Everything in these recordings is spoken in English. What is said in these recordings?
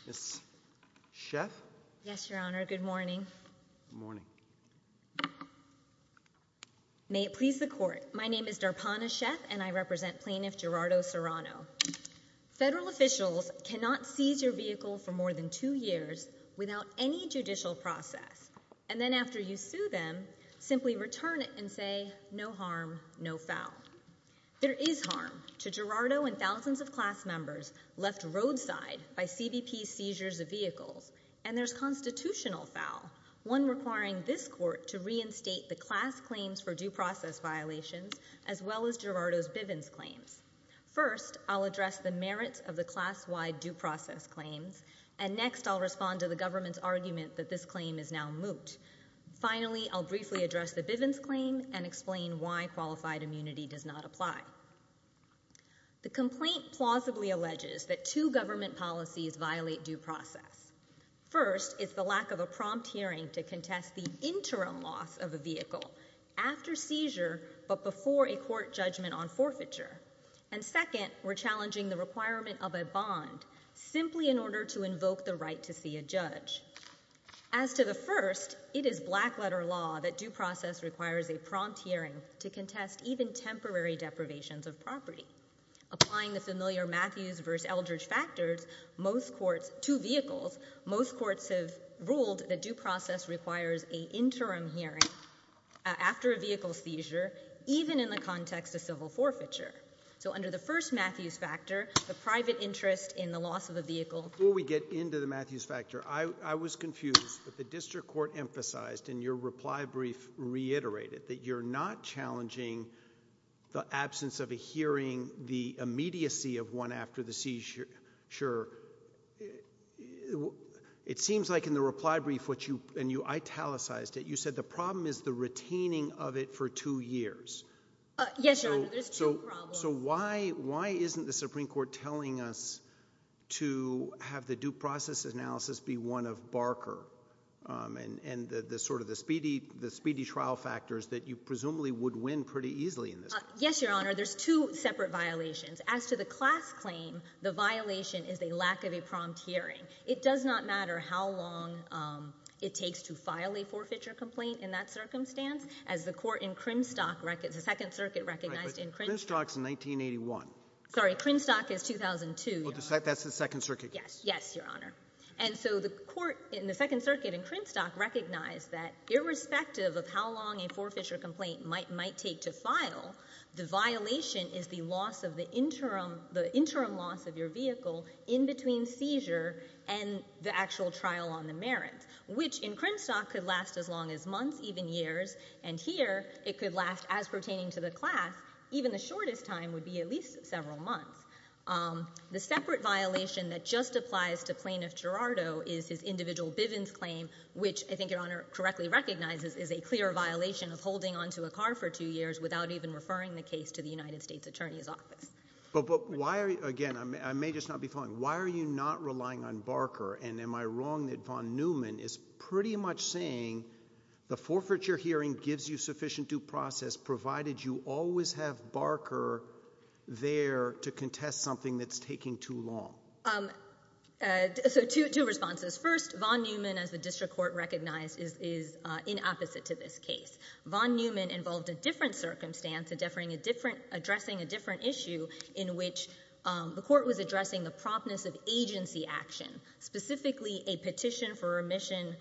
Department. Ms. Sheff? Yes, Your Honor. Good morning. Good morning. May it please the Court, my name is Darpana Sheff and I represent Plaintiff Gerardo Serrano. Federal officials cannot seize your vehicle for more than two years without any judicial process and then after you sue them, simply return it and say, no harm, no foul. There is harm to Gerardo and thousands of class members left roadside by CBP seizures of vehicles and there's constitutional foul, one requiring this Court to reinstate the class claims for due process violations as well as Gerardo's Bivens claims. First, I'll address the merits of the class-wide due process claims and next, I'll respond to the government's argument that this claim is now moot. Finally, I'll briefly address the Bivens claim and explain why qualified immunity does not apply. The complaint plausibly alleges that two government policies violate due process. First, it's the lack of a prompt hearing to contest the interim loss of a vehicle after seizure but before a court judgment on forfeiture and second, we're challenging the requirement of a bond simply in order to invoke the right to see a judge. As to the first, it is black letter law that due process requires a prompt hearing to contest even temporary deprivations of property. Applying the familiar Matthews versus Eldridge factors, most courts, two vehicles, most courts have ruled that due process requires an interim hearing after a vehicle seizure even in the context of civil forfeiture. So under the first Matthews factor, the private interest in the loss of a vehicle Before we get into the Matthews factor, I was confused. The district court emphasized in your reply brief reiterated that you're not challenging the absence of a hearing, the immediacy of one after the seizure. It seems like in the reply brief, and you italicized it, you said the problem is the retaining of it for two years. Yes, Your Honor. There's two problems. So why isn't the Supreme Court telling us to have the due process analysis be one of Barker and the sort of the speedy trial factors that you presumably would win pretty easily in this case? Yes, Your Honor. There's two separate violations. As to the class claim, the violation is a lack of a prompt hearing. It does not matter how long it takes to file a forfeiture complaint in that circumstance. As the court in Crimstock, the Second Circuit recognized in Crimstock in 1981, sorry, Crimstock is 2002. That's the Second Circuit. Yes. Yes, Your Honor. And so the court in the Second Circuit in Crimstock recognized that irrespective of how long a forfeiture complaint might might take to file, the violation is the loss of the interim, the interim loss of your vehicle in between seizure and the actual trial on the merits, which in Crimstock could last as long as months, even years. And here, it could last as pertaining to the class. Even the shortest time would be at least several months. The separate violation that just applies to Plaintiff Girardo is his individual Bivens claim, which I think Your Honor correctly recognizes is a clear violation of holding onto a car for two years without even referring the case to the United States Attorney's Office. But why are you, again, I may just not be following. Why are you not relying on Barker? And am I wrong that Von Neumann is pretty much saying the forfeiture hearing gives you sufficient due process provided you always have Barker there to contest something that's taking too long? So two, two responses. First, Von Neumann, as the District Court recognized, is in opposite to this case. Von Neumann involved a different circumstance, addressing a different issue in which the plaintiff filed specifically a petition for remission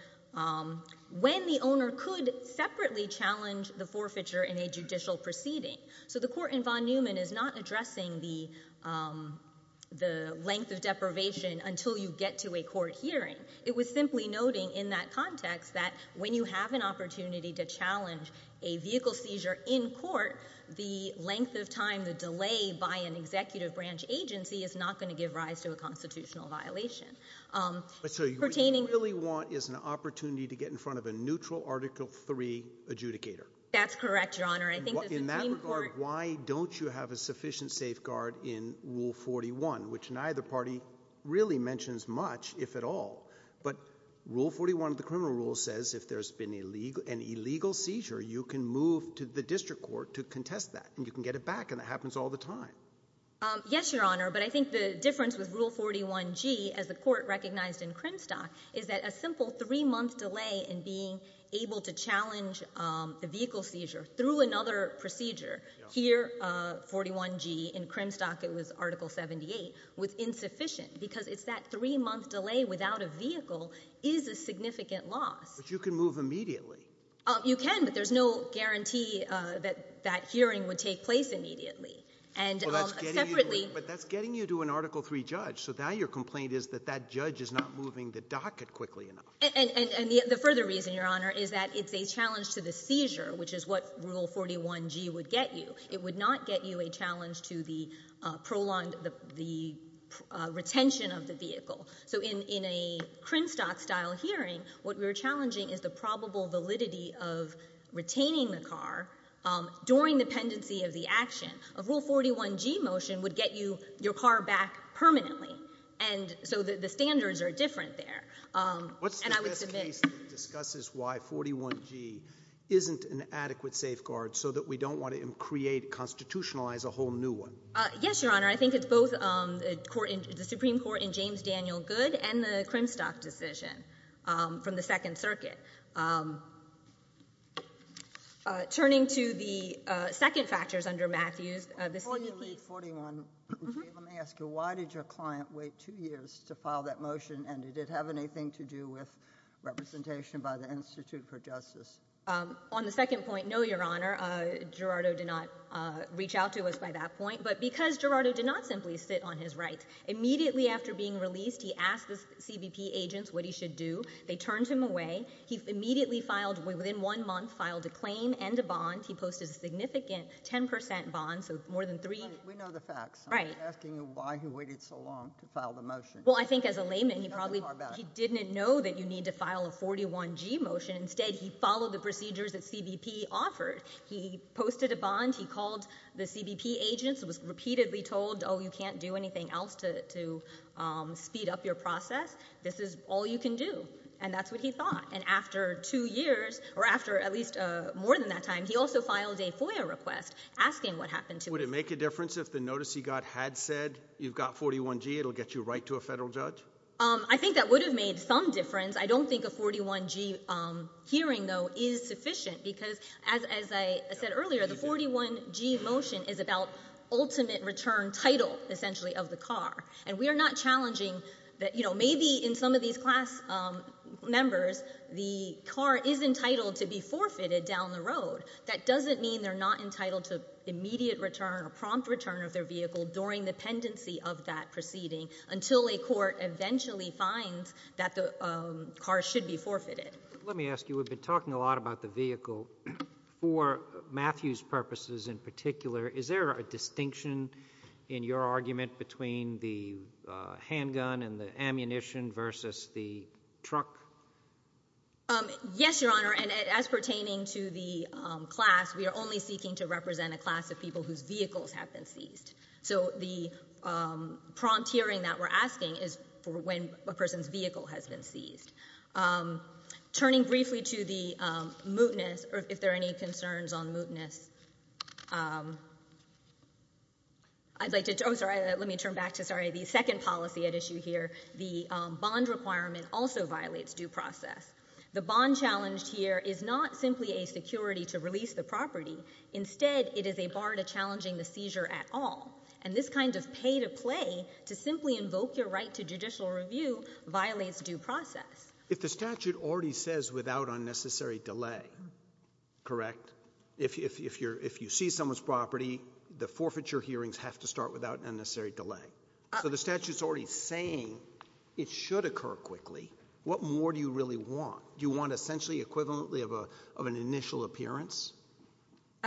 when the owner could separately challenge the forfeiture in a judicial proceeding. So the court in Von Neumann is not addressing the length of deprivation until you get to a court hearing. It was simply noting in that context that when you have an opportunity to challenge a vehicle seizure in court, the length of time, the delay by an executive branch agency is not going to give rise to a constitutional violation. But so what you really want is an opportunity to get in front of a neutral Article III adjudicator. That's correct, Your Honor. I think the Supreme Court— In that regard, why don't you have a sufficient safeguard in Rule 41, which neither party really mentions much, if at all. But Rule 41 of the criminal rule says if there's been an illegal seizure, you can move to the District Court to contest that, and you can get it back, and that happens all the time. Yes, Your Honor, but I think the difference with Rule 41G, as the court recognized in Crimstock, is that a simple three-month delay in being able to challenge a vehicle seizure through another procedure—here, 41G, in Crimstock it was Article 78—was insufficient because it's that three-month delay without a vehicle is a significant loss. But you can move immediately. You can, but there's no guarantee that that hearing would take place immediately. But that's getting you to an Article III judge, so now your complaint is that that judge is not moving the docket quickly enough. And the further reason, Your Honor, is that it's a challenge to the seizure, which is what Rule 41G would get you. It would not get you a challenge to the retention of the vehicle. So in a Crimstock-style hearing, what we're challenging is the probable validity of retaining the car during the pendency of the action. A Rule 41G motion would get you your car back permanently, and so the standards are different there. And I would submit— What's the best case that discusses why 41G isn't an adequate safeguard so that we don't want to create, constitutionalize a whole new one? Yes, Your Honor. I think it's both the Supreme Court in James Daniel Goode and the Crimstock decision from the Second Circuit. Turning to the second factors under Matthews, the CBP— Before you read 41G, let me ask you, why did your client wait two years to file that motion, and did it have anything to do with representation by the Institute for Justice? On the second point, no, Your Honor, Gerardo did not reach out to us by that point. But because Gerardo did not simply sit on his right, immediately after being released he asked the CBP agents what he should do. They turned him away. He immediately filed—within one month, filed a claim and a bond. He posted a significant 10 percent bond, so more than three— We know the facts. Right. I'm just asking you why he waited so long to file the motion. Well, I think as a layman, he probably didn't know that you need to file a 41G motion. Instead, he followed the procedures that CBP offered. He posted a bond, he called the CBP agents, was repeatedly told, oh, you can't do anything else to speed up your process. This is all you can do. And that's what he thought. And after two years, or after at least more than that time, he also filed a FOIA request asking what happened to him. Would it make a difference if the notice he got had said, you've got 41G, it'll get you right to a federal judge? I think that would have made some difference. I don't think a 41G hearing, though, is sufficient, because as I said earlier, the And we are not challenging that, you know, maybe in some of these class members, the car is entitled to be forfeited down the road. That doesn't mean they're not entitled to immediate return or prompt return of their vehicle during the pendency of that proceeding until a court eventually finds that the car should be forfeited. Let me ask you, we've been talking a lot about the vehicle. For Matthew's purposes in particular, is there a distinction in your argument between the handgun and the ammunition versus the truck? Yes, Your Honor, and as pertaining to the class, we are only seeking to represent a class of people whose vehicles have been seized. So the prompt hearing that we're asking is for when a person's vehicle has been seized. Turning briefly to the mootness, or if there are any concerns on mootness, I'd like to – oh, sorry, let me turn back to, sorry, the second policy at issue here. The bond requirement also violates due process. The bond challenged here is not simply a security to release the property. Instead, it is a bar to challenging the seizure at all, and this kind of pay-to-play to simply invoke your right to judicial review violates due process. If the statute already says without unnecessary delay, correct? If you see someone's property, the forfeiture hearings have to start without unnecessary delay. So the statute's already saying it should occur quickly. What more do you really want? You want essentially equivalently of an initial appearance?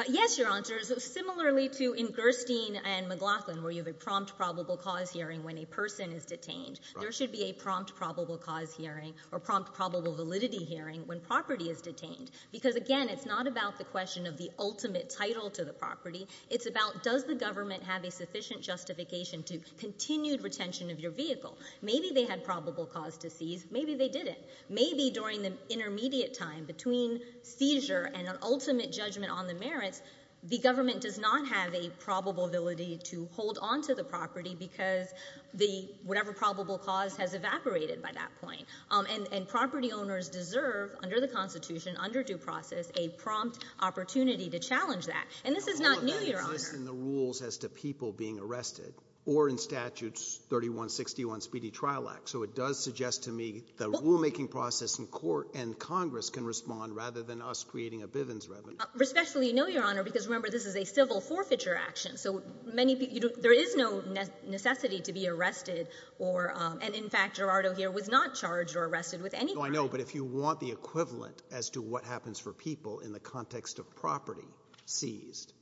Yes, Your Honor. Similarly to in Gerstein and McLaughlin, where you have a prompt probable cause hearing when a person is detained, there should be a prompt probable cause hearing or prompt probable validity hearing when property is detained. Because again, it's not about the question of the ultimate title to the property. It's about does the government have a sufficient justification to continued retention of your vehicle. Maybe they had probable cause to seize. Maybe they didn't. Maybe during the intermediate time between seizure and an ultimate judgment on the merits, the government does not have a probable validity to hold on to the property because the whatever probable cause has evaporated by that point. And property owners deserve, under the Constitution, under due process, a prompt opportunity to challenge that. And this is not new, Your Honor. It doesn't exist in the rules as to people being arrested or in Statutes 3161 Speedy Trial Act. So it does suggest to me the rulemaking process in court and Congress can respond rather than us creating a Bivens revenue. Respectfully, no, Your Honor, because remember, this is a civil forfeiture action. So there is no necessity to be arrested or, and in fact, Gerardo here was not charged or arrested with anything. No, I know, but if you want the equivalent as to what happens for people in the context of property seized,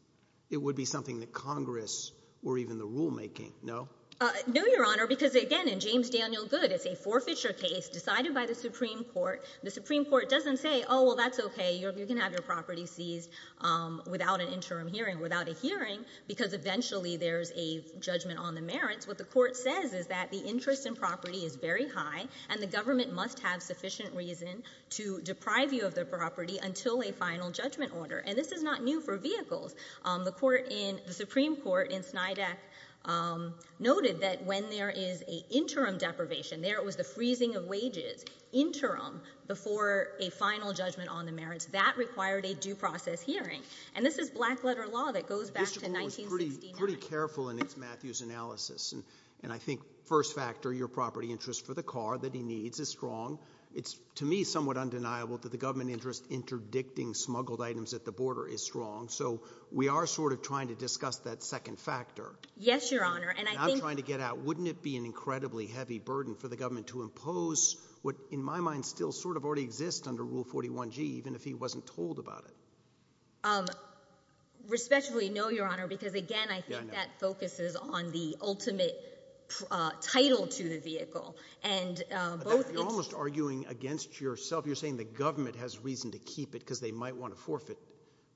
it would be something that Congress or even the rulemaking, no? No, Your Honor, because again, in James Daniel Goode, it's a forfeiture case decided by the Supreme Court. The Supreme Court doesn't say, oh, well, that's okay, you can have your property seized without an interim hearing, without a hearing, because eventually there's a judgment on the merits. What the court says is that the interest in property is very high and the government must have sufficient reason to deprive you of the property until a final judgment order. And this is not new for vehicles. The court in, the Supreme Court in Snydeck noted that when there is a interim deprivation, there it was the freezing of wages, interim, before a final judgment on the merits, that required a due process hearing. And this is black letter law that goes back to 1969. Mr. Goode was pretty, pretty careful in his Matthews analysis. And I think first factor, your property interest for the car that he needs is strong. It's to me somewhat undeniable that the government interest interdicting smuggled items at the border is strong. So we are sort of trying to discuss that second factor. Yes, Your Honor. And I'm trying to get out, wouldn't it be an incredibly heavy burden for the government to impose what in my mind still sort of already exists under Rule 41G, even if he wasn't told about it? Respectfully, no, Your Honor, because again, I think that focuses on the ultimate title to the vehicle. And both... You're almost arguing against yourself. You're saying the government has reason to keep it because they might want to forfeit.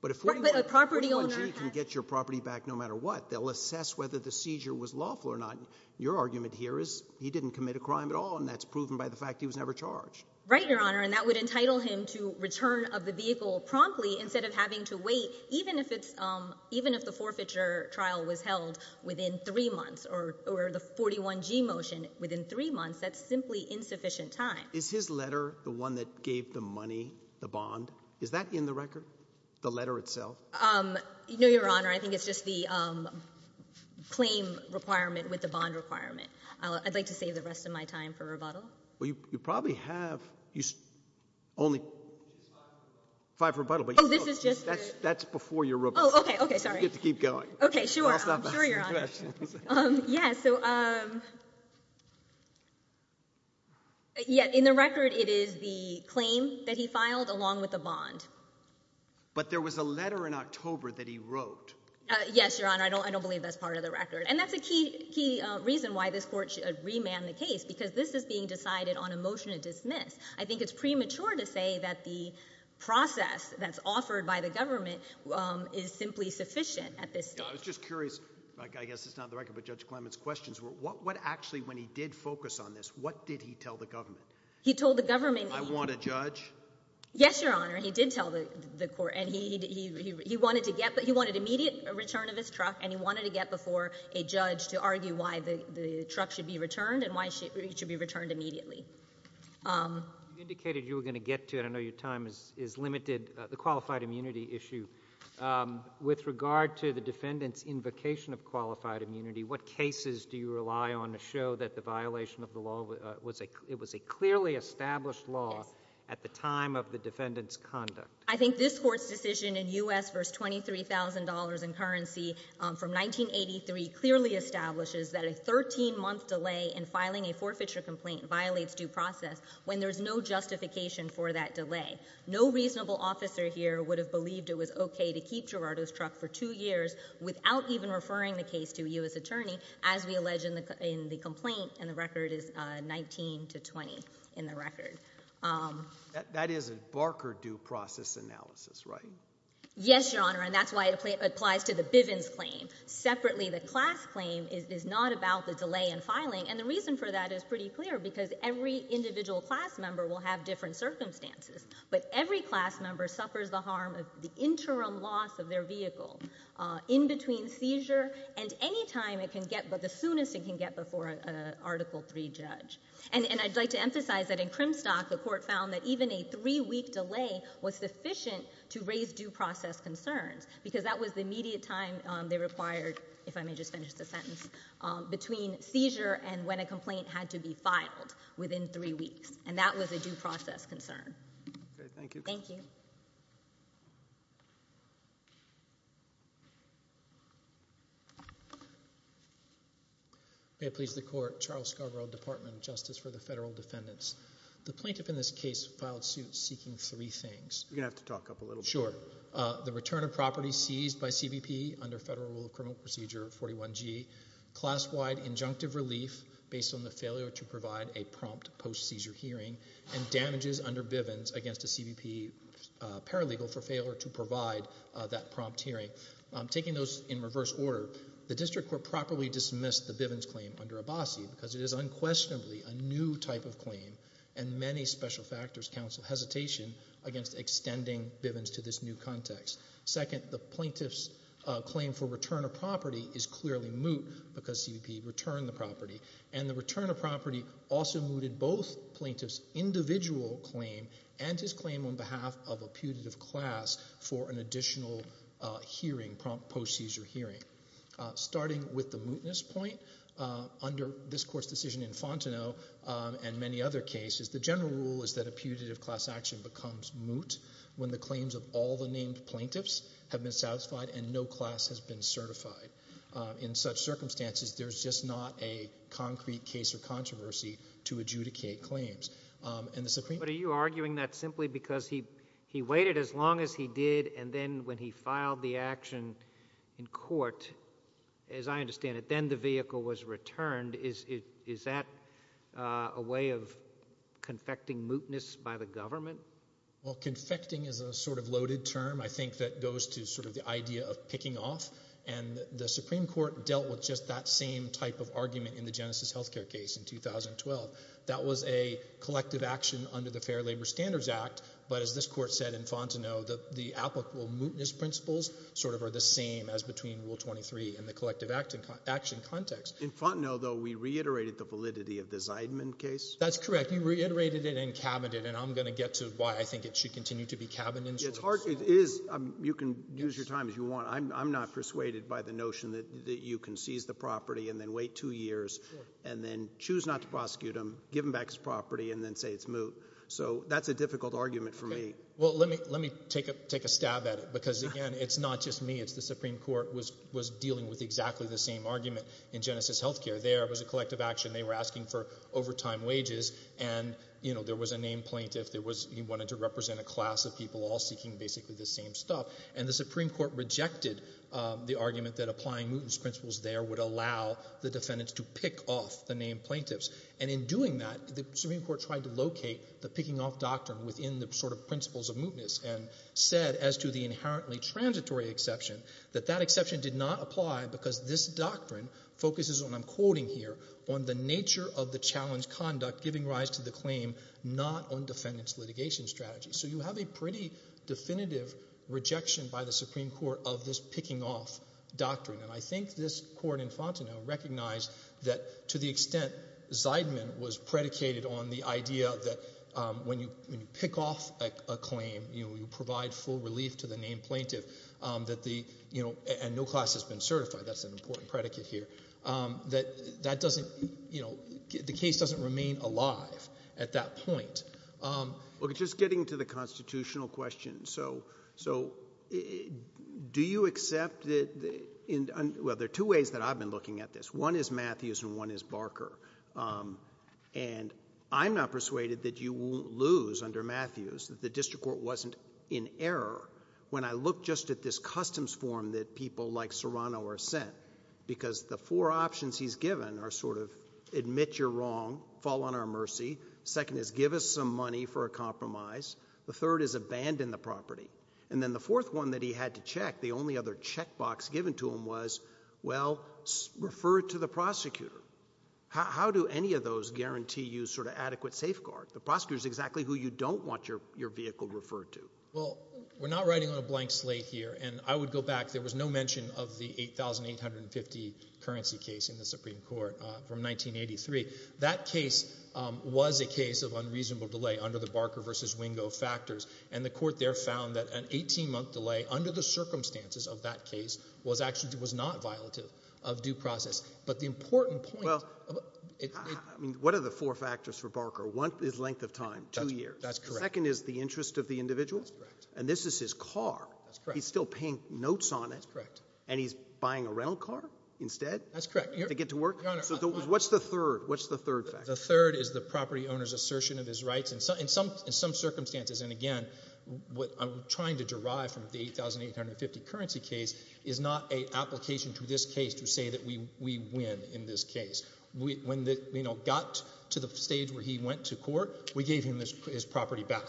But if Rule 41G can get your property back no matter what, they'll assess whether the claim is lawful or not. Your argument here is he didn't commit a crime at all, and that's proven by the fact he was never charged. Right, Your Honor. And that would entitle him to return of the vehicle promptly instead of having to wait, even if the forfeiture trial was held within three months or the 41G motion within three months. That's simply insufficient time. Is his letter the one that gave the money, the bond? Is that in the record? The letter itself? No, Your Honor. I think it's just the claim requirement with the bond requirement. I'd like to save the rest of my time for rebuttal. Well, you probably have only five rebuttals, but that's before your rebuttal. Oh, okay. Sorry. You get to keep going. Okay. Sure. I'm sure, Your Honor. I'll stop asking questions. So, yeah, in the record, it is the claim that he filed along with the bond. But there was a letter in October that he wrote. Yes, Your Honor. I don't believe that's part of the record. And that's a key reason why this court should remand the case, because this is being decided on a motion to dismiss. I think it's premature to say that the process that's offered by the government is simply sufficient at this stage. I was just curious, I guess it's not in the record, but Judge Clement's questions were, what actually, when he did focus on this, what did he tell the government? He told the government... I want a judge. Yes, Your Honor. He did tell the court, and he wanted immediate return of his truck, and he wanted to get before a judge to argue why the truck should be returned and why it should be returned immediately. You indicated you were going to get to, and I know your time is limited, the qualified immunity issue. With regard to the defendant's invocation of qualified immunity, what cases do you rely on to show that the violation of the law, it was a clearly established law at the time of the defendant's conduct? I think this court's decision in U.S. v. $23,000 in currency from 1983 clearly establishes that a 13-month delay in filing a forfeiture complaint violates due process when there's no justification for that delay. No reasonable officer here would have believed it was okay to keep Gerardo's truck for two years without even referring the case to a U.S. attorney, as we allege in the complaint, and the record is 19 to 20 in the record. That is a Barker due process analysis, right? Yes, Your Honor, and that's why it applies to the Bivens claim. Separately, the class claim is not about the delay in filing, and the reason for that is pretty clear, because every individual class member will have different circumstances, but every class member suffers the harm of the interim loss of their vehicle in between seizure and any time it can get, but the soonest it can get before an Article III judge. And I'd like to emphasize that in Crimstock, the court found that even a three-week delay was sufficient to raise due process concerns, because that was the immediate time they required, if I may just finish the sentence, between seizure and when a complaint had to be filed within three weeks, and that was a due process concern. Okay, thank you. Thank you. May it please the Court, Charles Scarborough, Department of Justice for the Federal Defendants. The plaintiff in this case filed suit seeking three things. You're going to have to talk up a little bit. Sure. The return of property seized by CBP under Federal Rule of Criminal Procedure 41G, class-wide injunctive relief based on the failure to provide a prompt post-seizure hearing, and legal for failure to provide that prompt hearing. Taking those in reverse order, the district court properly dismissed the Bivens claim under Abbasi, because it is unquestionably a new type of claim, and many special factors counsel hesitation against extending Bivens to this new context. Second, the plaintiff's claim for return of property is clearly moot, because CBP returned the property, and the return of property also mooted both plaintiff's individual claim and his claim on behalf of a putative class for an additional hearing, prompt post-seizure hearing. Starting with the mootness point, under this Court's decision in Fontenot, and many other cases, the general rule is that a putative class action becomes moot when the claims of all the named plaintiffs have been satisfied and no class has been certified. In such circumstances, there's just not a concrete case or controversy to adjudicate claims. But are you arguing that simply because he waited as long as he did, and then when he filed the action in court, as I understand it, then the vehicle was returned? Is that a way of confecting mootness by the government? Well, confecting is a sort of loaded term, I think, that goes to sort of the idea of picking off, and the Supreme Court dealt with just that same type of argument in the Genesis Healthcare case in 2012. That was a collective action under the Fair Labor Standards Act. But as this Court said in Fontenot, the applicable mootness principles sort of are the same as between Rule 23 and the collective action context. In Fontenot, though, we reiterated the validity of the Zeidman case? That's correct. We reiterated it and cabined it, and I'm going to get to why I think it should continue to be cabined. It's hard. It is. You can use your time as you want. I'm not persuaded by the notion that you can seize the property and then wait two years and then choose not to prosecute him, give him back his property, and then say it's moot. So that's a difficult argument for me. Well, let me take a stab at it because, again, it's not just me. It's the Supreme Court was dealing with exactly the same argument in Genesis Healthcare. There was a collective action. They were asking for overtime wages, and there was a named plaintiff. He wanted to represent a class of people all seeking basically the same stuff. And the Supreme Court rejected the argument that applying mootness principles there would allow the defendants to pick off the named plaintiffs. And in doing that, the Supreme Court tried to locate the picking off doctrine within the sort of principles of mootness and said as to the inherently transitory exception that that exception did not apply because this doctrine focuses on, I'm quoting here, on the nature of the challenge conduct giving rise to the claim not on defendant's litigation strategy. So you have a pretty definitive rejection by the Supreme Court of this picking off doctrine. And I think this court in Fontenot recognized that to the extent Zeidman was predicated on the idea that when you pick off a claim, you provide full relief to the named plaintiff, and no class has been certified, that's an important predicate here, that the case doesn't remain alive at that point. Just getting to the constitutional question, so do you accept, well there are two ways that I've been looking at this. One is Matthews and one is Barker. And I'm not persuaded that you won't lose under Matthews that the district court wasn't in error when I look just at this customs form that people like Serrano are sent. Because the four options he's given are sort of admit you're wrong, fall on our mercy, second is give us some money for a compromise, the third is abandon the property, and then the fourth one that he had to check, the only other checkbox given to him was, well, refer it to the prosecutor. How do any of those guarantee you sort of adequate safeguard? The prosecutor is exactly who you don't want your vehicle referred to. Well, we're not writing on a blank slate here, and I would go back, there was no mention of the $8,850 currency case in the Supreme Court from 1983. That case was a case of unreasonable delay under the Barker versus Wingo factors, and the court there found that an 18-month delay under the circumstances of that case was actually not violative of due process. But the important point... What are the four factors for Barker? One is length of time, two years. Second is the interest of the individual, and this is his car, he's still paying notes on it, and he's buying a rental car instead to get to work? Your Honor... What's the third? What's the third factor? The third is the property owner's assertion of his rights in some circumstances, and again, what I'm trying to derive from the $8,850 currency case is not an application to this case to say that we win in this case. When it got to the stage where he went to court, we gave him his property back,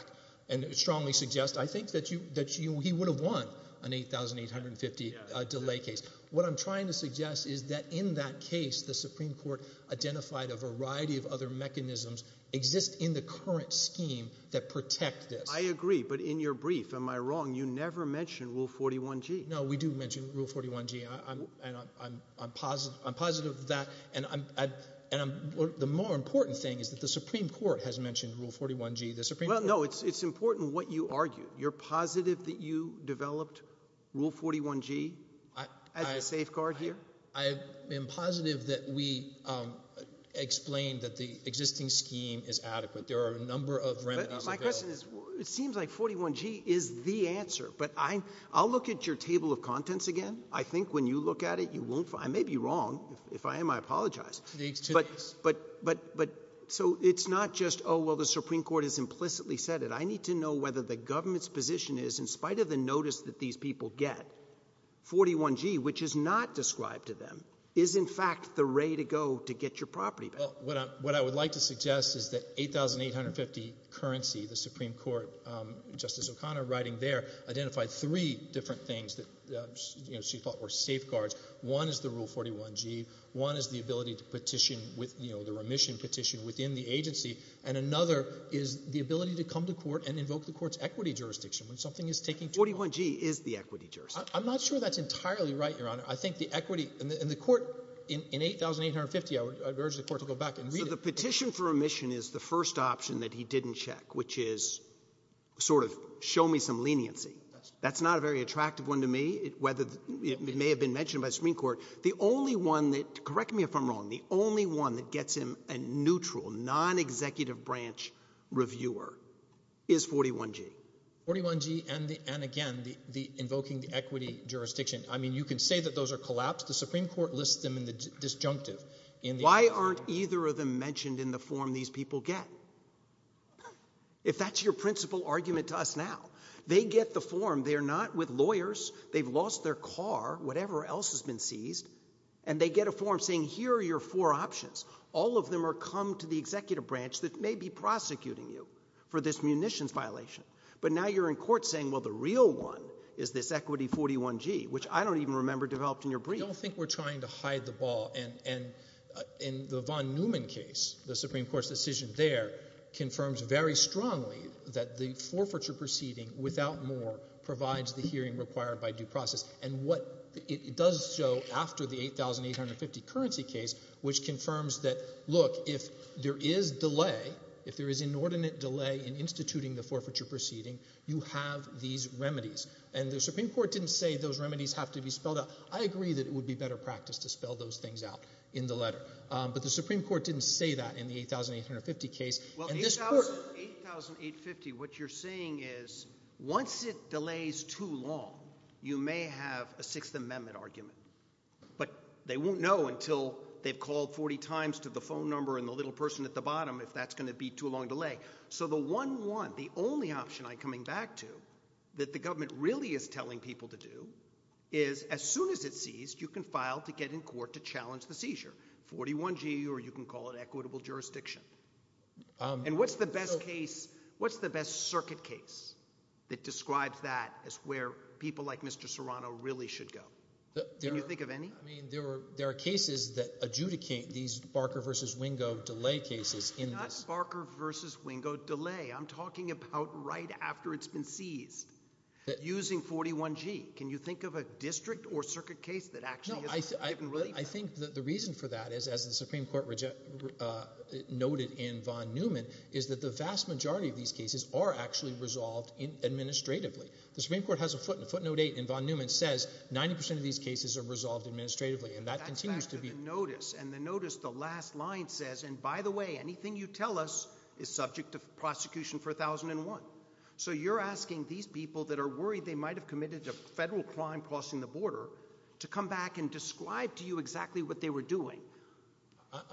and strongly suggest, I think, that he would have won an $8,850 delay case. What I'm trying to suggest is that in that case, the Supreme Court identified a variety of other mechanisms exist in the current scheme that protect this. I agree, but in your brief, am I wrong, you never mentioned Rule 41G. No, we do mention Rule 41G, and I'm positive of that, and the more important thing is that the Supreme Court has mentioned Rule 41G. The Supreme Court... Well, no, it's important what you argue. You're positive that you developed Rule 41G as a safeguard here? I am positive that we explained that the existing scheme is adequate. There are a number of remedies available. My question is, it seems like 41G is the answer, but I'll look at your table of contents again. I think when you look at it, you won't find... I may be wrong. If I am, I apologize, but so it's not just, oh, well, the Supreme Court has implicitly said it. I need to know whether the government's position is, in spite of the notice that these people get, 41G, which is not described to them, is in fact the way to go to get your property back. Well, what I would like to suggest is that 8,850 currency, the Supreme Court, Justice O'Connor writing there, identified three different things that she thought were safeguards. One is the Rule 41G. One is the ability to petition with the remission petition within the agency, and another is the ability to come to court and invoke the court's equity jurisdiction when something is taking... 41G is the equity jurisdiction. I'm not sure that's entirely right, Your Honor. I think the equity... And the court, in 8,850, I would urge the court to go back and read it. So the petition for remission is the first option that he didn't check, which is sort of show me some leniency. That's not a very attractive one to me, whether it may have been mentioned by the Supreme Court. The only one that, correct me if I'm wrong, the only one that gets him a neutral, non-executive branch reviewer is 41G. 41G, and again, the invoking the equity jurisdiction, I mean, you can say that those are collapsed. The Supreme Court lists them in the disjunctive in the... Why aren't either of them mentioned in the form these people get? If that's your principal argument to us now, they get the form. They're not with lawyers. They've lost their car, whatever else has been seized, and they get a form saying, here are your four options. All of them are come to the executive branch that may be prosecuting you for this munitions violation. But now you're in court saying, well, the real one is this equity 41G, which I don't even remember developed in your brief. I don't think we're trying to hide the ball, and in the Von Neumann case, the Supreme Court's decision there confirms very strongly that the forfeiture proceeding without more provides the hearing required by due process. And what it does show after the $8,850 currency case, which confirms that, look, if there is delay, if there is inordinate delay in instituting the forfeiture proceeding, you have these remedies. And the Supreme Court didn't say those remedies have to be spelled out. I agree that it would be better practice to spell those things out in the letter, but the Supreme Court didn't say that in the $8,850 case. Well, $8,850, what you're saying is once it delays too long, you may have a Sixth Amendment argument, but they won't know until they've called 40 times to the phone number and the little person at the bottom if that's going to be too long delay. So the one, one, the only option I'm coming back to that the government really is telling people to do is as soon as it's seized, you can file to get in court to challenge the And what's the best case? What's the best circuit case that describes that as where people like Mr. Serrano really should go? Can you think of any? I mean, there were, there are cases that adjudicate these Barker versus Wingo delay cases in this. Not Barker versus Wingo delay. I'm talking about right after it's been seized. Using 41G. Can you think of a district or circuit case that actually isn't? I think that the reason for that is, as the Supreme Court rejected, uh, noted in Von Neumann is that the vast majority of these cases are actually resolved in administratively. The Supreme Court has a foot in a footnote eight and Von Neumann says 90% of these cases are resolved administratively and that continues to be noticed. And the notice, the last line says, and by the way, anything you tell us is subject to prosecution for a thousand and one. So you're asking these people that are worried they might've committed a federal crime crossing the border to come back and describe to you exactly what they were doing,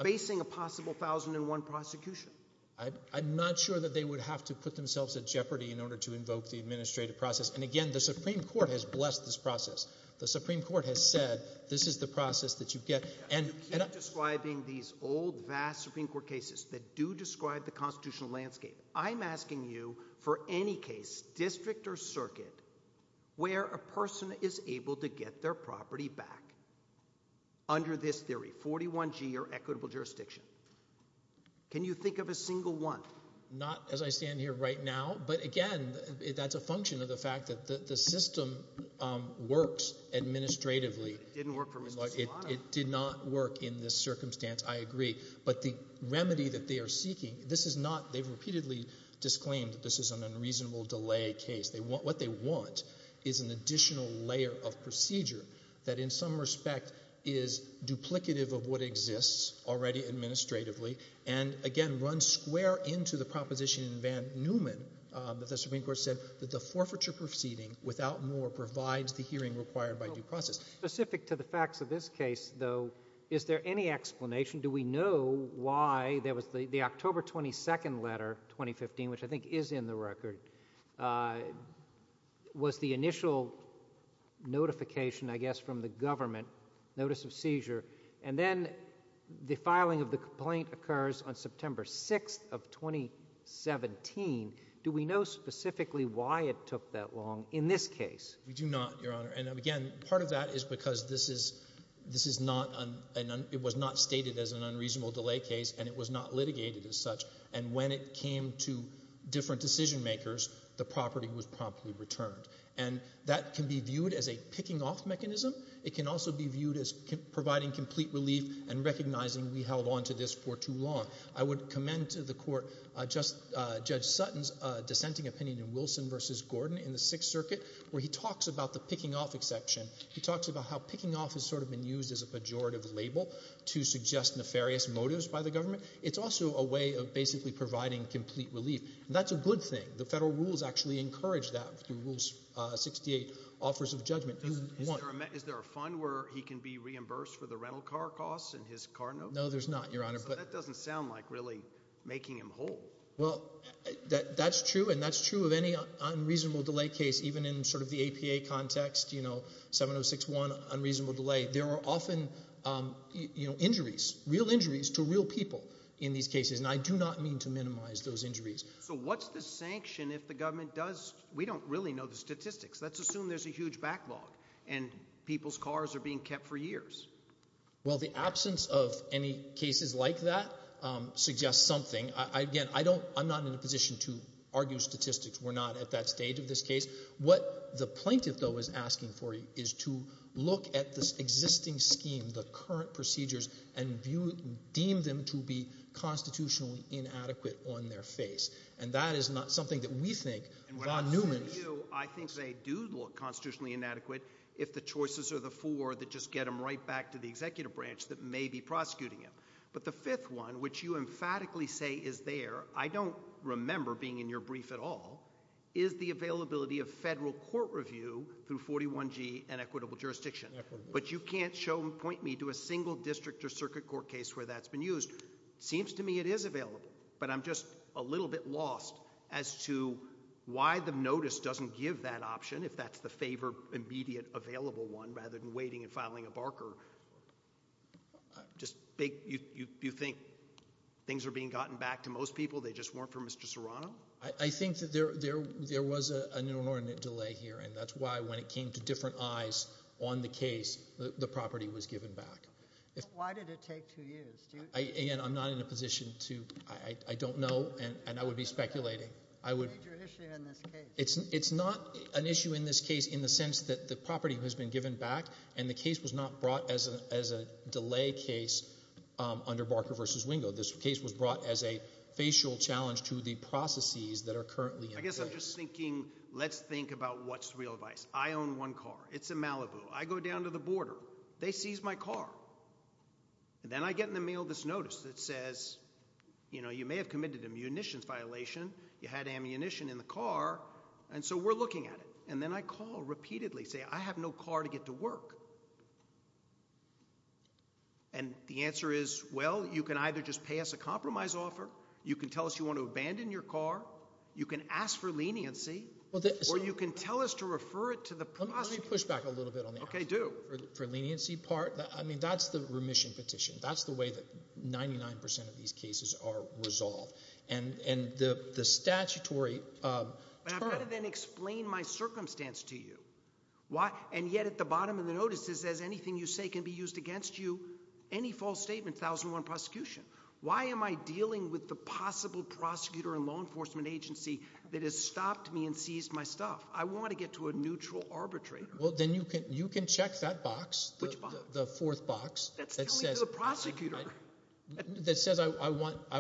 basing a possible thousand and one prosecution. I'm not sure that they would have to put themselves at jeopardy in order to invoke the administrative process. And again, the Supreme Court has blessed this process. The Supreme Court has said, this is the process that you get. And I'm describing these old vast Supreme Court cases that do describe the constitutional landscape. I'm asking you for any case, district or circuit, where a person is able to get their property back under this theory, 41G or equitable jurisdiction. Can you think of a single one? Not as I stand here right now, but again, that's a function of the fact that the system works administratively. It didn't work for Mr. Solano. It did not work in this circumstance, I agree. But the remedy that they are seeking, this is not, they've repeatedly disclaimed that this is an unreasonable delay case. What they want is an additional layer of procedure that in some respect is duplicative of what exists already administratively. And again, runs square into the proposition in Van Neumann that the Supreme Court said that the forfeiture proceeding without more provides the hearing required by due process. Specific to the facts of this case, though, is there any explanation? Do we know why there was the October 22nd letter, 2015, which I think is in the record, was the initial notification, I guess, from the government, notice of seizure. And then the filing of the complaint occurs on September 6th of 2017. Do we know specifically why it took that long in this case? We do not, Your Honor. And again, part of that is because this is not, it was not stated as an unreasonable delay case and it was not litigated as such. And when it came to different decision makers, the property was promptly returned. And that can be viewed as a picking off mechanism. It can also be viewed as providing complete relief and recognizing we held onto this for too long. I would commend to the Court Judge Sutton's dissenting opinion in Wilson v. Gordon in the Sixth Circuit, where he talks about the picking off exception. He talks about how picking off has sort of been used as a pejorative label to suggest nefarious motives by the government. It's also a way of basically providing complete relief. That's a good thing. The federal rules actually encourage that through Rule 68, offers of judgment. Is there a fund where he can be reimbursed for the rental car costs and his car note? No, there's not, Your Honor. So that doesn't sound like really making him whole. Well, that's true and that's true of any unreasonable delay case, even in sort of the APA context, you know, 706-1, unreasonable delay, there are often, you know, injuries, real injuries to real people in these cases and I do not mean to minimize those injuries. So what's the sanction if the government does, we don't really know the statistics, let's assume there's a huge backlog and people's cars are being kept for years. Well the absence of any cases like that suggests something. Again, I don't, I'm not in a position to argue statistics. We're not at that stage of this case. What the plaintiff, though, is asking for is to look at this existing scheme, the current procedures and deem them to be constitutionally inadequate on their face and that is not something that we think, Von Neumann. I think they do look constitutionally inadequate if the choices are the four that just get them right back to the executive branch that may be prosecuting him. But the fifth one, which you emphatically say is there, I don't remember being in your brief at all, is the availability of federal court review through 41G and equitable jurisdiction. But you can't show and point me to a single district or circuit court case where that's been used. It seems to me it is available, but I'm just a little bit lost as to why the notice doesn't give that option if that's the favor immediate available one rather than waiting and filing a barker. You think things are being gotten back to most people, they just weren't for Mr. Serrano? I think that there was an inordinate delay here and that's why when it came to different eyes on the case, the property was given back. Why did it take two years? Again, I'm not in a position to, I don't know and I would be speculating. It's a major issue in this case. It's not an issue in this case in the sense that the property has been given back and the case was not brought as a delay case under Barker v. Wingo. This case was brought as a facial challenge to the processes that are currently in place. I guess I'm just thinking, let's think about what's real advice. I own one car. It's in Malibu. I go down to the border. They seize my car. Then I get in the mail this notice that says, you know, you may have committed a munitions violation. You had ammunition in the car and so we're looking at it. And then I call repeatedly, say, I have no car to get to work. And the answer is, well, you can either just pay us a compromise offer, you can tell us you want to abandon your car, you can ask for leniency, or you can tell us to refer it to the prosecutor. Let me push back a little bit on the ask for leniency part. I mean, that's the remission petition. That's the way that 99% of these cases are resolved. And the statutory term... But I've got to then explain my circumstance to you. And yet at the bottom of the notice it says anything you say can be used against you, any false statement, 1001 prosecution. Why am I dealing with the possible prosecutor and law enforcement agency that has stopped me and seized my stuff? I want to get to a neutral arbitrator. Well, then you can check that box, the fourth box. That's telling you the prosecutor. That says I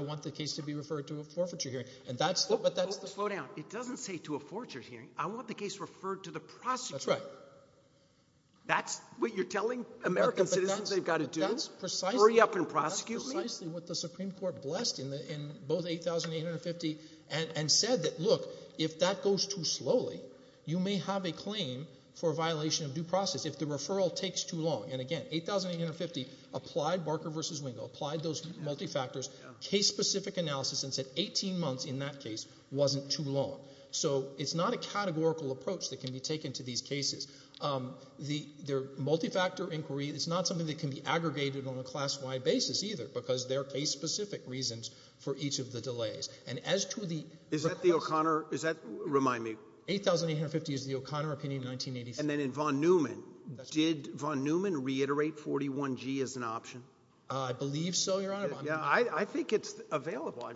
want the case to be referred to a forfeiture hearing. And that's the... Slow down. It doesn't say to a forfeiture hearing. I want the case referred to the prosecutor. That's what you're telling American citizens they've got to do? That's precisely... Hurry up and prosecute me? That's precisely what the Supreme Court blessed in both 8,850 and said that, look, if that goes too slowly, you may have a claim for violation of due process if the referral takes too long. And again, 8,850 applied Barker v. Wingo, applied those multi-factors, case-specific analysis and said 18 months in that case wasn't too long. So it's not a categorical approach that can be taken to these cases. They're multi-factor inquiry. It's not something that can be aggregated on a class-wide basis either because they're case-specific reasons for each of the delays. And as to the... Is that the O'Connor... Is that... Remind me. 8,850 is the O'Connor opinion in 1986. And then in Von Neumann. Did Von Neumann reiterate 41G as an option? I believe so, Your Honor. I think it's available.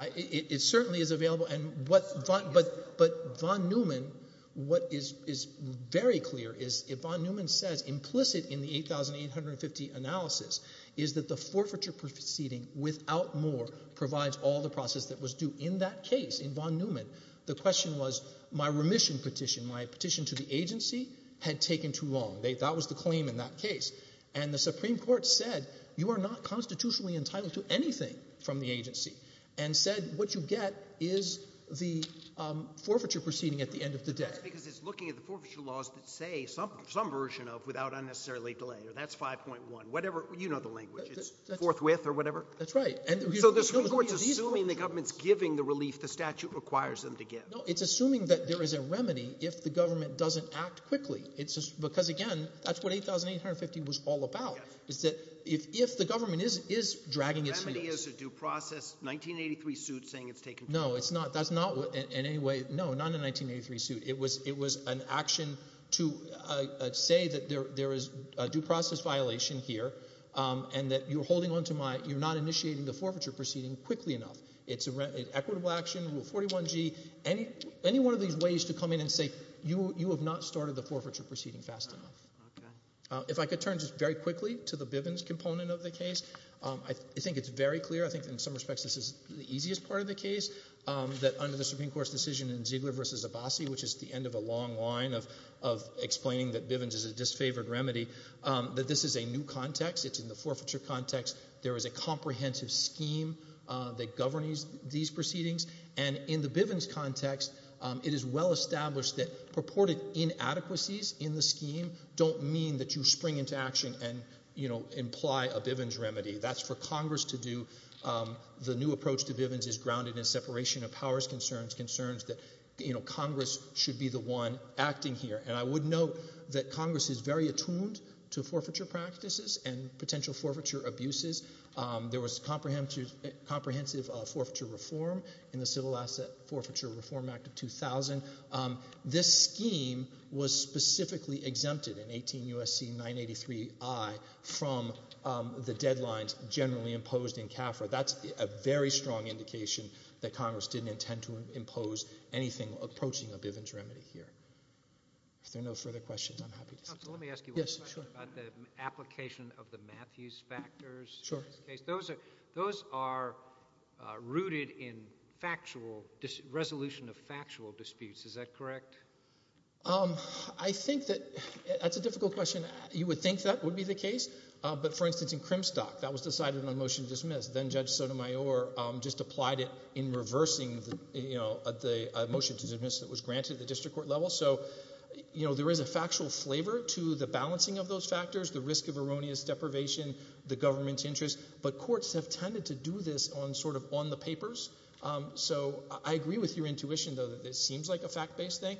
It certainly is available. But Von Neumann, what is very clear is if Von Neumann says implicit in the 8,850 analysis is that the forfeiture proceeding without more provides all the process that was due in that case, in Von Neumann, the question was, my remission petition, my petition to go too long. That was the claim in that case. And the Supreme Court said, you are not constitutionally entitled to anything from the agency. And said what you get is the forfeiture proceeding at the end of the day. That's because it's looking at the forfeiture laws that say some version of without unnecessarily delay. That's 5.1. Whatever. You know the language. It's forthwith or whatever. That's right. So the Supreme Court's assuming the government's giving the relief the statute requires them to give. No, it's assuming that there is a remedy if the government doesn't act quickly. It's just because, again, that's what 8,850 was all about, is that if the government is dragging its heels. The remedy is a due process 1983 suit saying it's taken too long. No, it's not. That's not in any way. No, not in a 1983 suit. It was an action to say that there is a due process violation here and that you're holding on to my, you're not initiating the forfeiture proceeding quickly enough. It's an equitable action, Rule 41G. Any one of these ways to come in and say you have not started the forfeiture proceeding fast enough. Okay. If I could turn just very quickly to the Bivens component of the case, I think it's very clear. I think in some respects this is the easiest part of the case, that under the Supreme Court's decision in Ziegler v. Abbasi, which is the end of a long line of explaining that Bivens is a disfavored remedy, that this is a new context. It's in the forfeiture context. There is a comprehensive scheme that governs these proceedings. In the Bivens context, it is well established that purported inadequacies in the scheme don't mean that you spring into action and imply a Bivens remedy. That's for Congress to do. The new approach to Bivens is grounded in separation of powers concerns, concerns that Congress should be the one acting here. I would note that Congress is very attuned to forfeiture practices and potential forfeiture abuses. There was comprehensive forfeiture reform in the Civil Asset Forfeiture Reform Act of 2000. This scheme was specifically exempted in 18 U.S.C. 983i from the deadlines generally imposed in CAFRA. That's a very strong indication that Congress didn't intend to impose anything approaching a Bivens remedy here. If there are no further questions, I'm happy to sit down. Counsel, let me ask you one question about the application of the Matthews factors. Sure. In this case, those are rooted in resolution of factual disputes. Is that correct? I think that that's a difficult question. You would think that would be the case, but for instance, in Crimstock, that was decided on a motion to dismiss. Then Judge Sotomayor just applied it in reversing the motion to dismiss that was granted at the district court level. There is a factual flavor to the balancing of those factors, the risk of erroneous deprivation, the government's interest, but courts have tended to do this on the papers. I agree with your intuition, though, that this seems like a fact-based thing.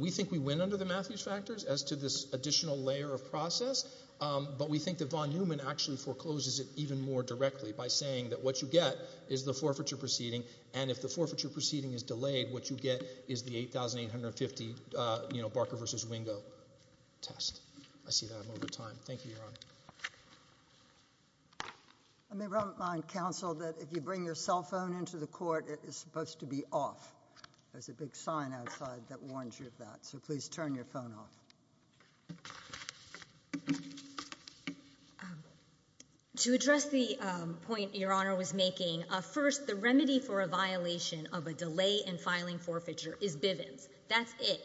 We think we win under the Matthews factors as to this additional layer of process, but we think that Von Neumann actually forecloses it even more directly by saying that what you get is the forfeiture proceeding, and if the forfeiture proceeding is delayed, what you get is the 8,850 Barker v. Wingo test. I see that I'm over time. Thank you, Your Honor. I may remind counsel that if you bring your cell phone into the court, it is supposed to be off. There's a big sign outside that warns you of that, so please turn your phone off. To address the point Your Honor was making, first, the remedy for a violation of a delay in filing forfeiture is Bivens. That's it.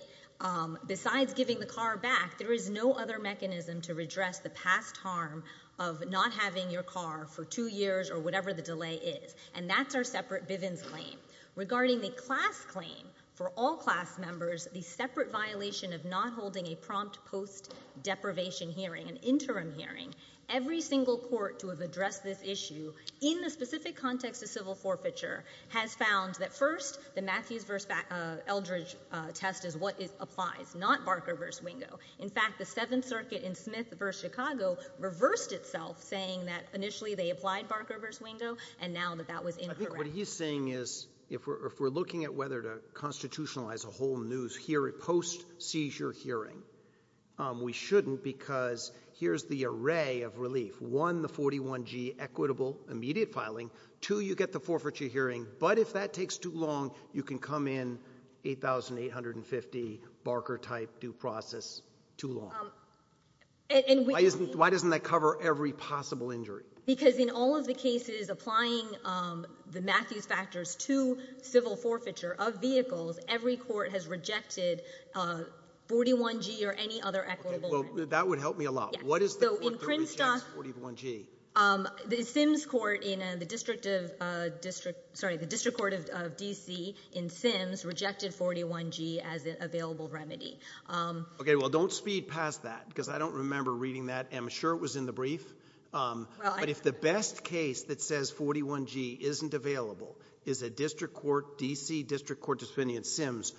Besides giving the car back, there is no other mechanism to redress the past harm of not having your car for two years or whatever the delay is, and that's our separate Bivens claim. Regarding the class claim for all class members, the separate violation of not holding a prompt post-deprivation hearing, an interim hearing, every single court to have addressed this issue in the specific context of civil forfeiture has found that first, the Matthews v. Eldredge test is what applies, not Barker v. Wingo. In fact, the Seventh Circuit in Smith v. Chicago reversed itself, saying that initially they applied Barker v. Wingo, and now that that was incorrect. I think what he's saying is, if we're looking at whether to constitutionalize a whole news hearing post-seizure hearing, we shouldn't, because here's the array of relief. One, the 41G equitable immediate filing. Two, you get the forfeiture hearing. But if that takes too long, you can come in 8,850 Barker-type due process, too long. Why doesn't that cover every possible injury? Because in all of the cases applying the Matthews factors to civil forfeiture of vehicles, every court has rejected 41G or any other equitable. That would help me a lot. What is the reason it's 41G? The district court of DC in Sims rejected 41G as an available remedy. Okay, well don't speed past that, because I don't remember reading that. I'm sure it was in the brief. But if the best case that says 41G isn't available is a district court, DC district court discipline in Sims,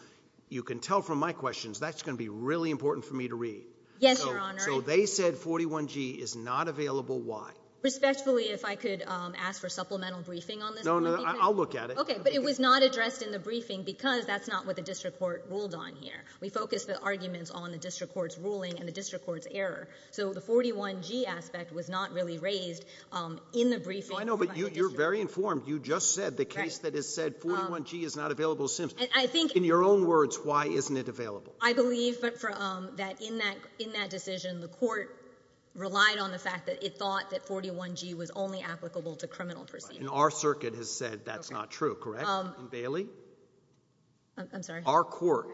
you can tell from my questions, that's going to be really important for me to read. Yes, Your Honor. So they said 41G is not available, why? Respectfully, if I could ask for supplemental briefing on this. No, no, I'll look at it. Okay, but it was not addressed in the briefing because that's not what the district court ruled on here. We focused the arguments on the district court's ruling and the district court's error. So the 41G aspect was not really raised in the briefing. No, I know, but you're very informed. You just said the case that has said 41G is not available in Sims. In your own words, why isn't it available? I believe that in that decision, the court relied on the fact that it thought that 41G was only applicable to criminal proceedings. Our circuit has said that's not true, correct? Bailey? I'm sorry? Our court.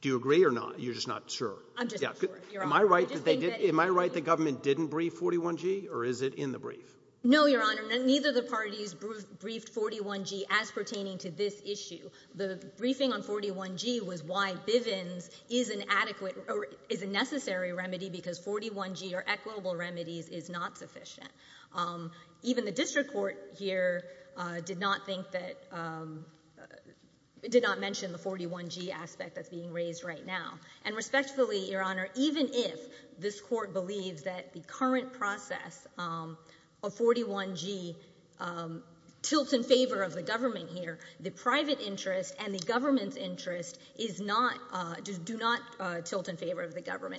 Do you agree or not? You're just not sure. I'm just not sure. Am I right that the government didn't brief 41G or is it in the brief? No, Your Honor. Neither of the parties briefed 41G as pertaining to this issue. The briefing on 41G was why Bivens is an adequate or is a necessary remedy because 41G or equitable remedies is not sufficient. Even the district court here did not think that, did not mention the 41G aspect that's being raised right now. And respectfully, Your Honor, even if this court believes that the current process of and the government's interest is not, do not tilt in favor of the government.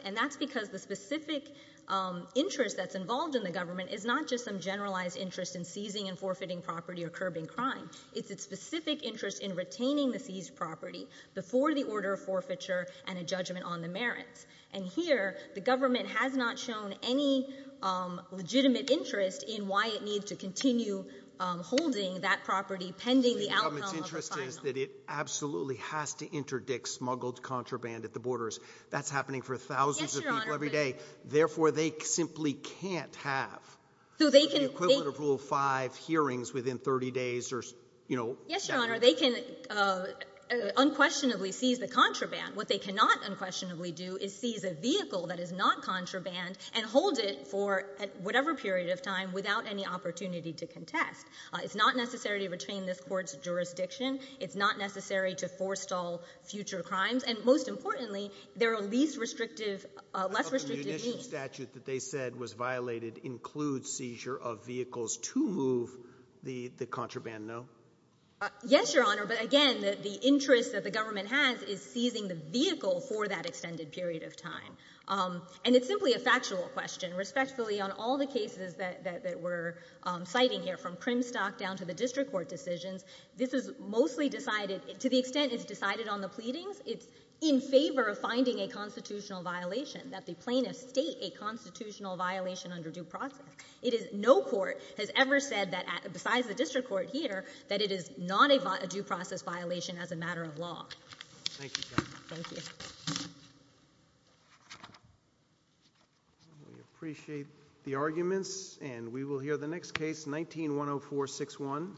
And that's because the specific interest that's involved in the government is not just some generalized interest in seizing and forfeiting property or curbing crime. It's a specific interest in retaining the seized property before the order of forfeiture and a judgment on the merits. And here, the government has not shown any legitimate interest in why it needs to continue holding that property pending the outcome of a final. So the government's interest is that it absolutely has to interdict smuggled contraband at the borders. That's happening for thousands of people every day. Therefore they simply can't have the equivalent of Rule 5 hearings within 30 days or, you know. Yes, Your Honor. They can unquestionably seize the contraband. What they cannot unquestionably do is seize a vehicle that is not contraband and hold it for whatever period of time without any opportunity to contest. It's not necessary to retain this court's jurisdiction. It's not necessary to forestall future crimes. And most importantly, there are less restrictive means. The initial statute that they said was violated includes seizure of vehicles to move the contraband, no? Yes, Your Honor. But again, the interest that the government has is seizing the vehicle for that extended period of time. And it's simply a factual question. Respectfully, on all the cases that we're citing here, from Primstock down to the district court decisions, this is mostly decided, to the extent it's decided on the pleadings, it's in favor of finding a constitutional violation, that the plaintiffs state a constitutional violation under due process. It is, no court has ever said that, besides the district court here, that it is not a due process violation as a matter of law. Thank you, Your Honor. Thank you. We appreciate the arguments, and we will hear the next case, 19-10461.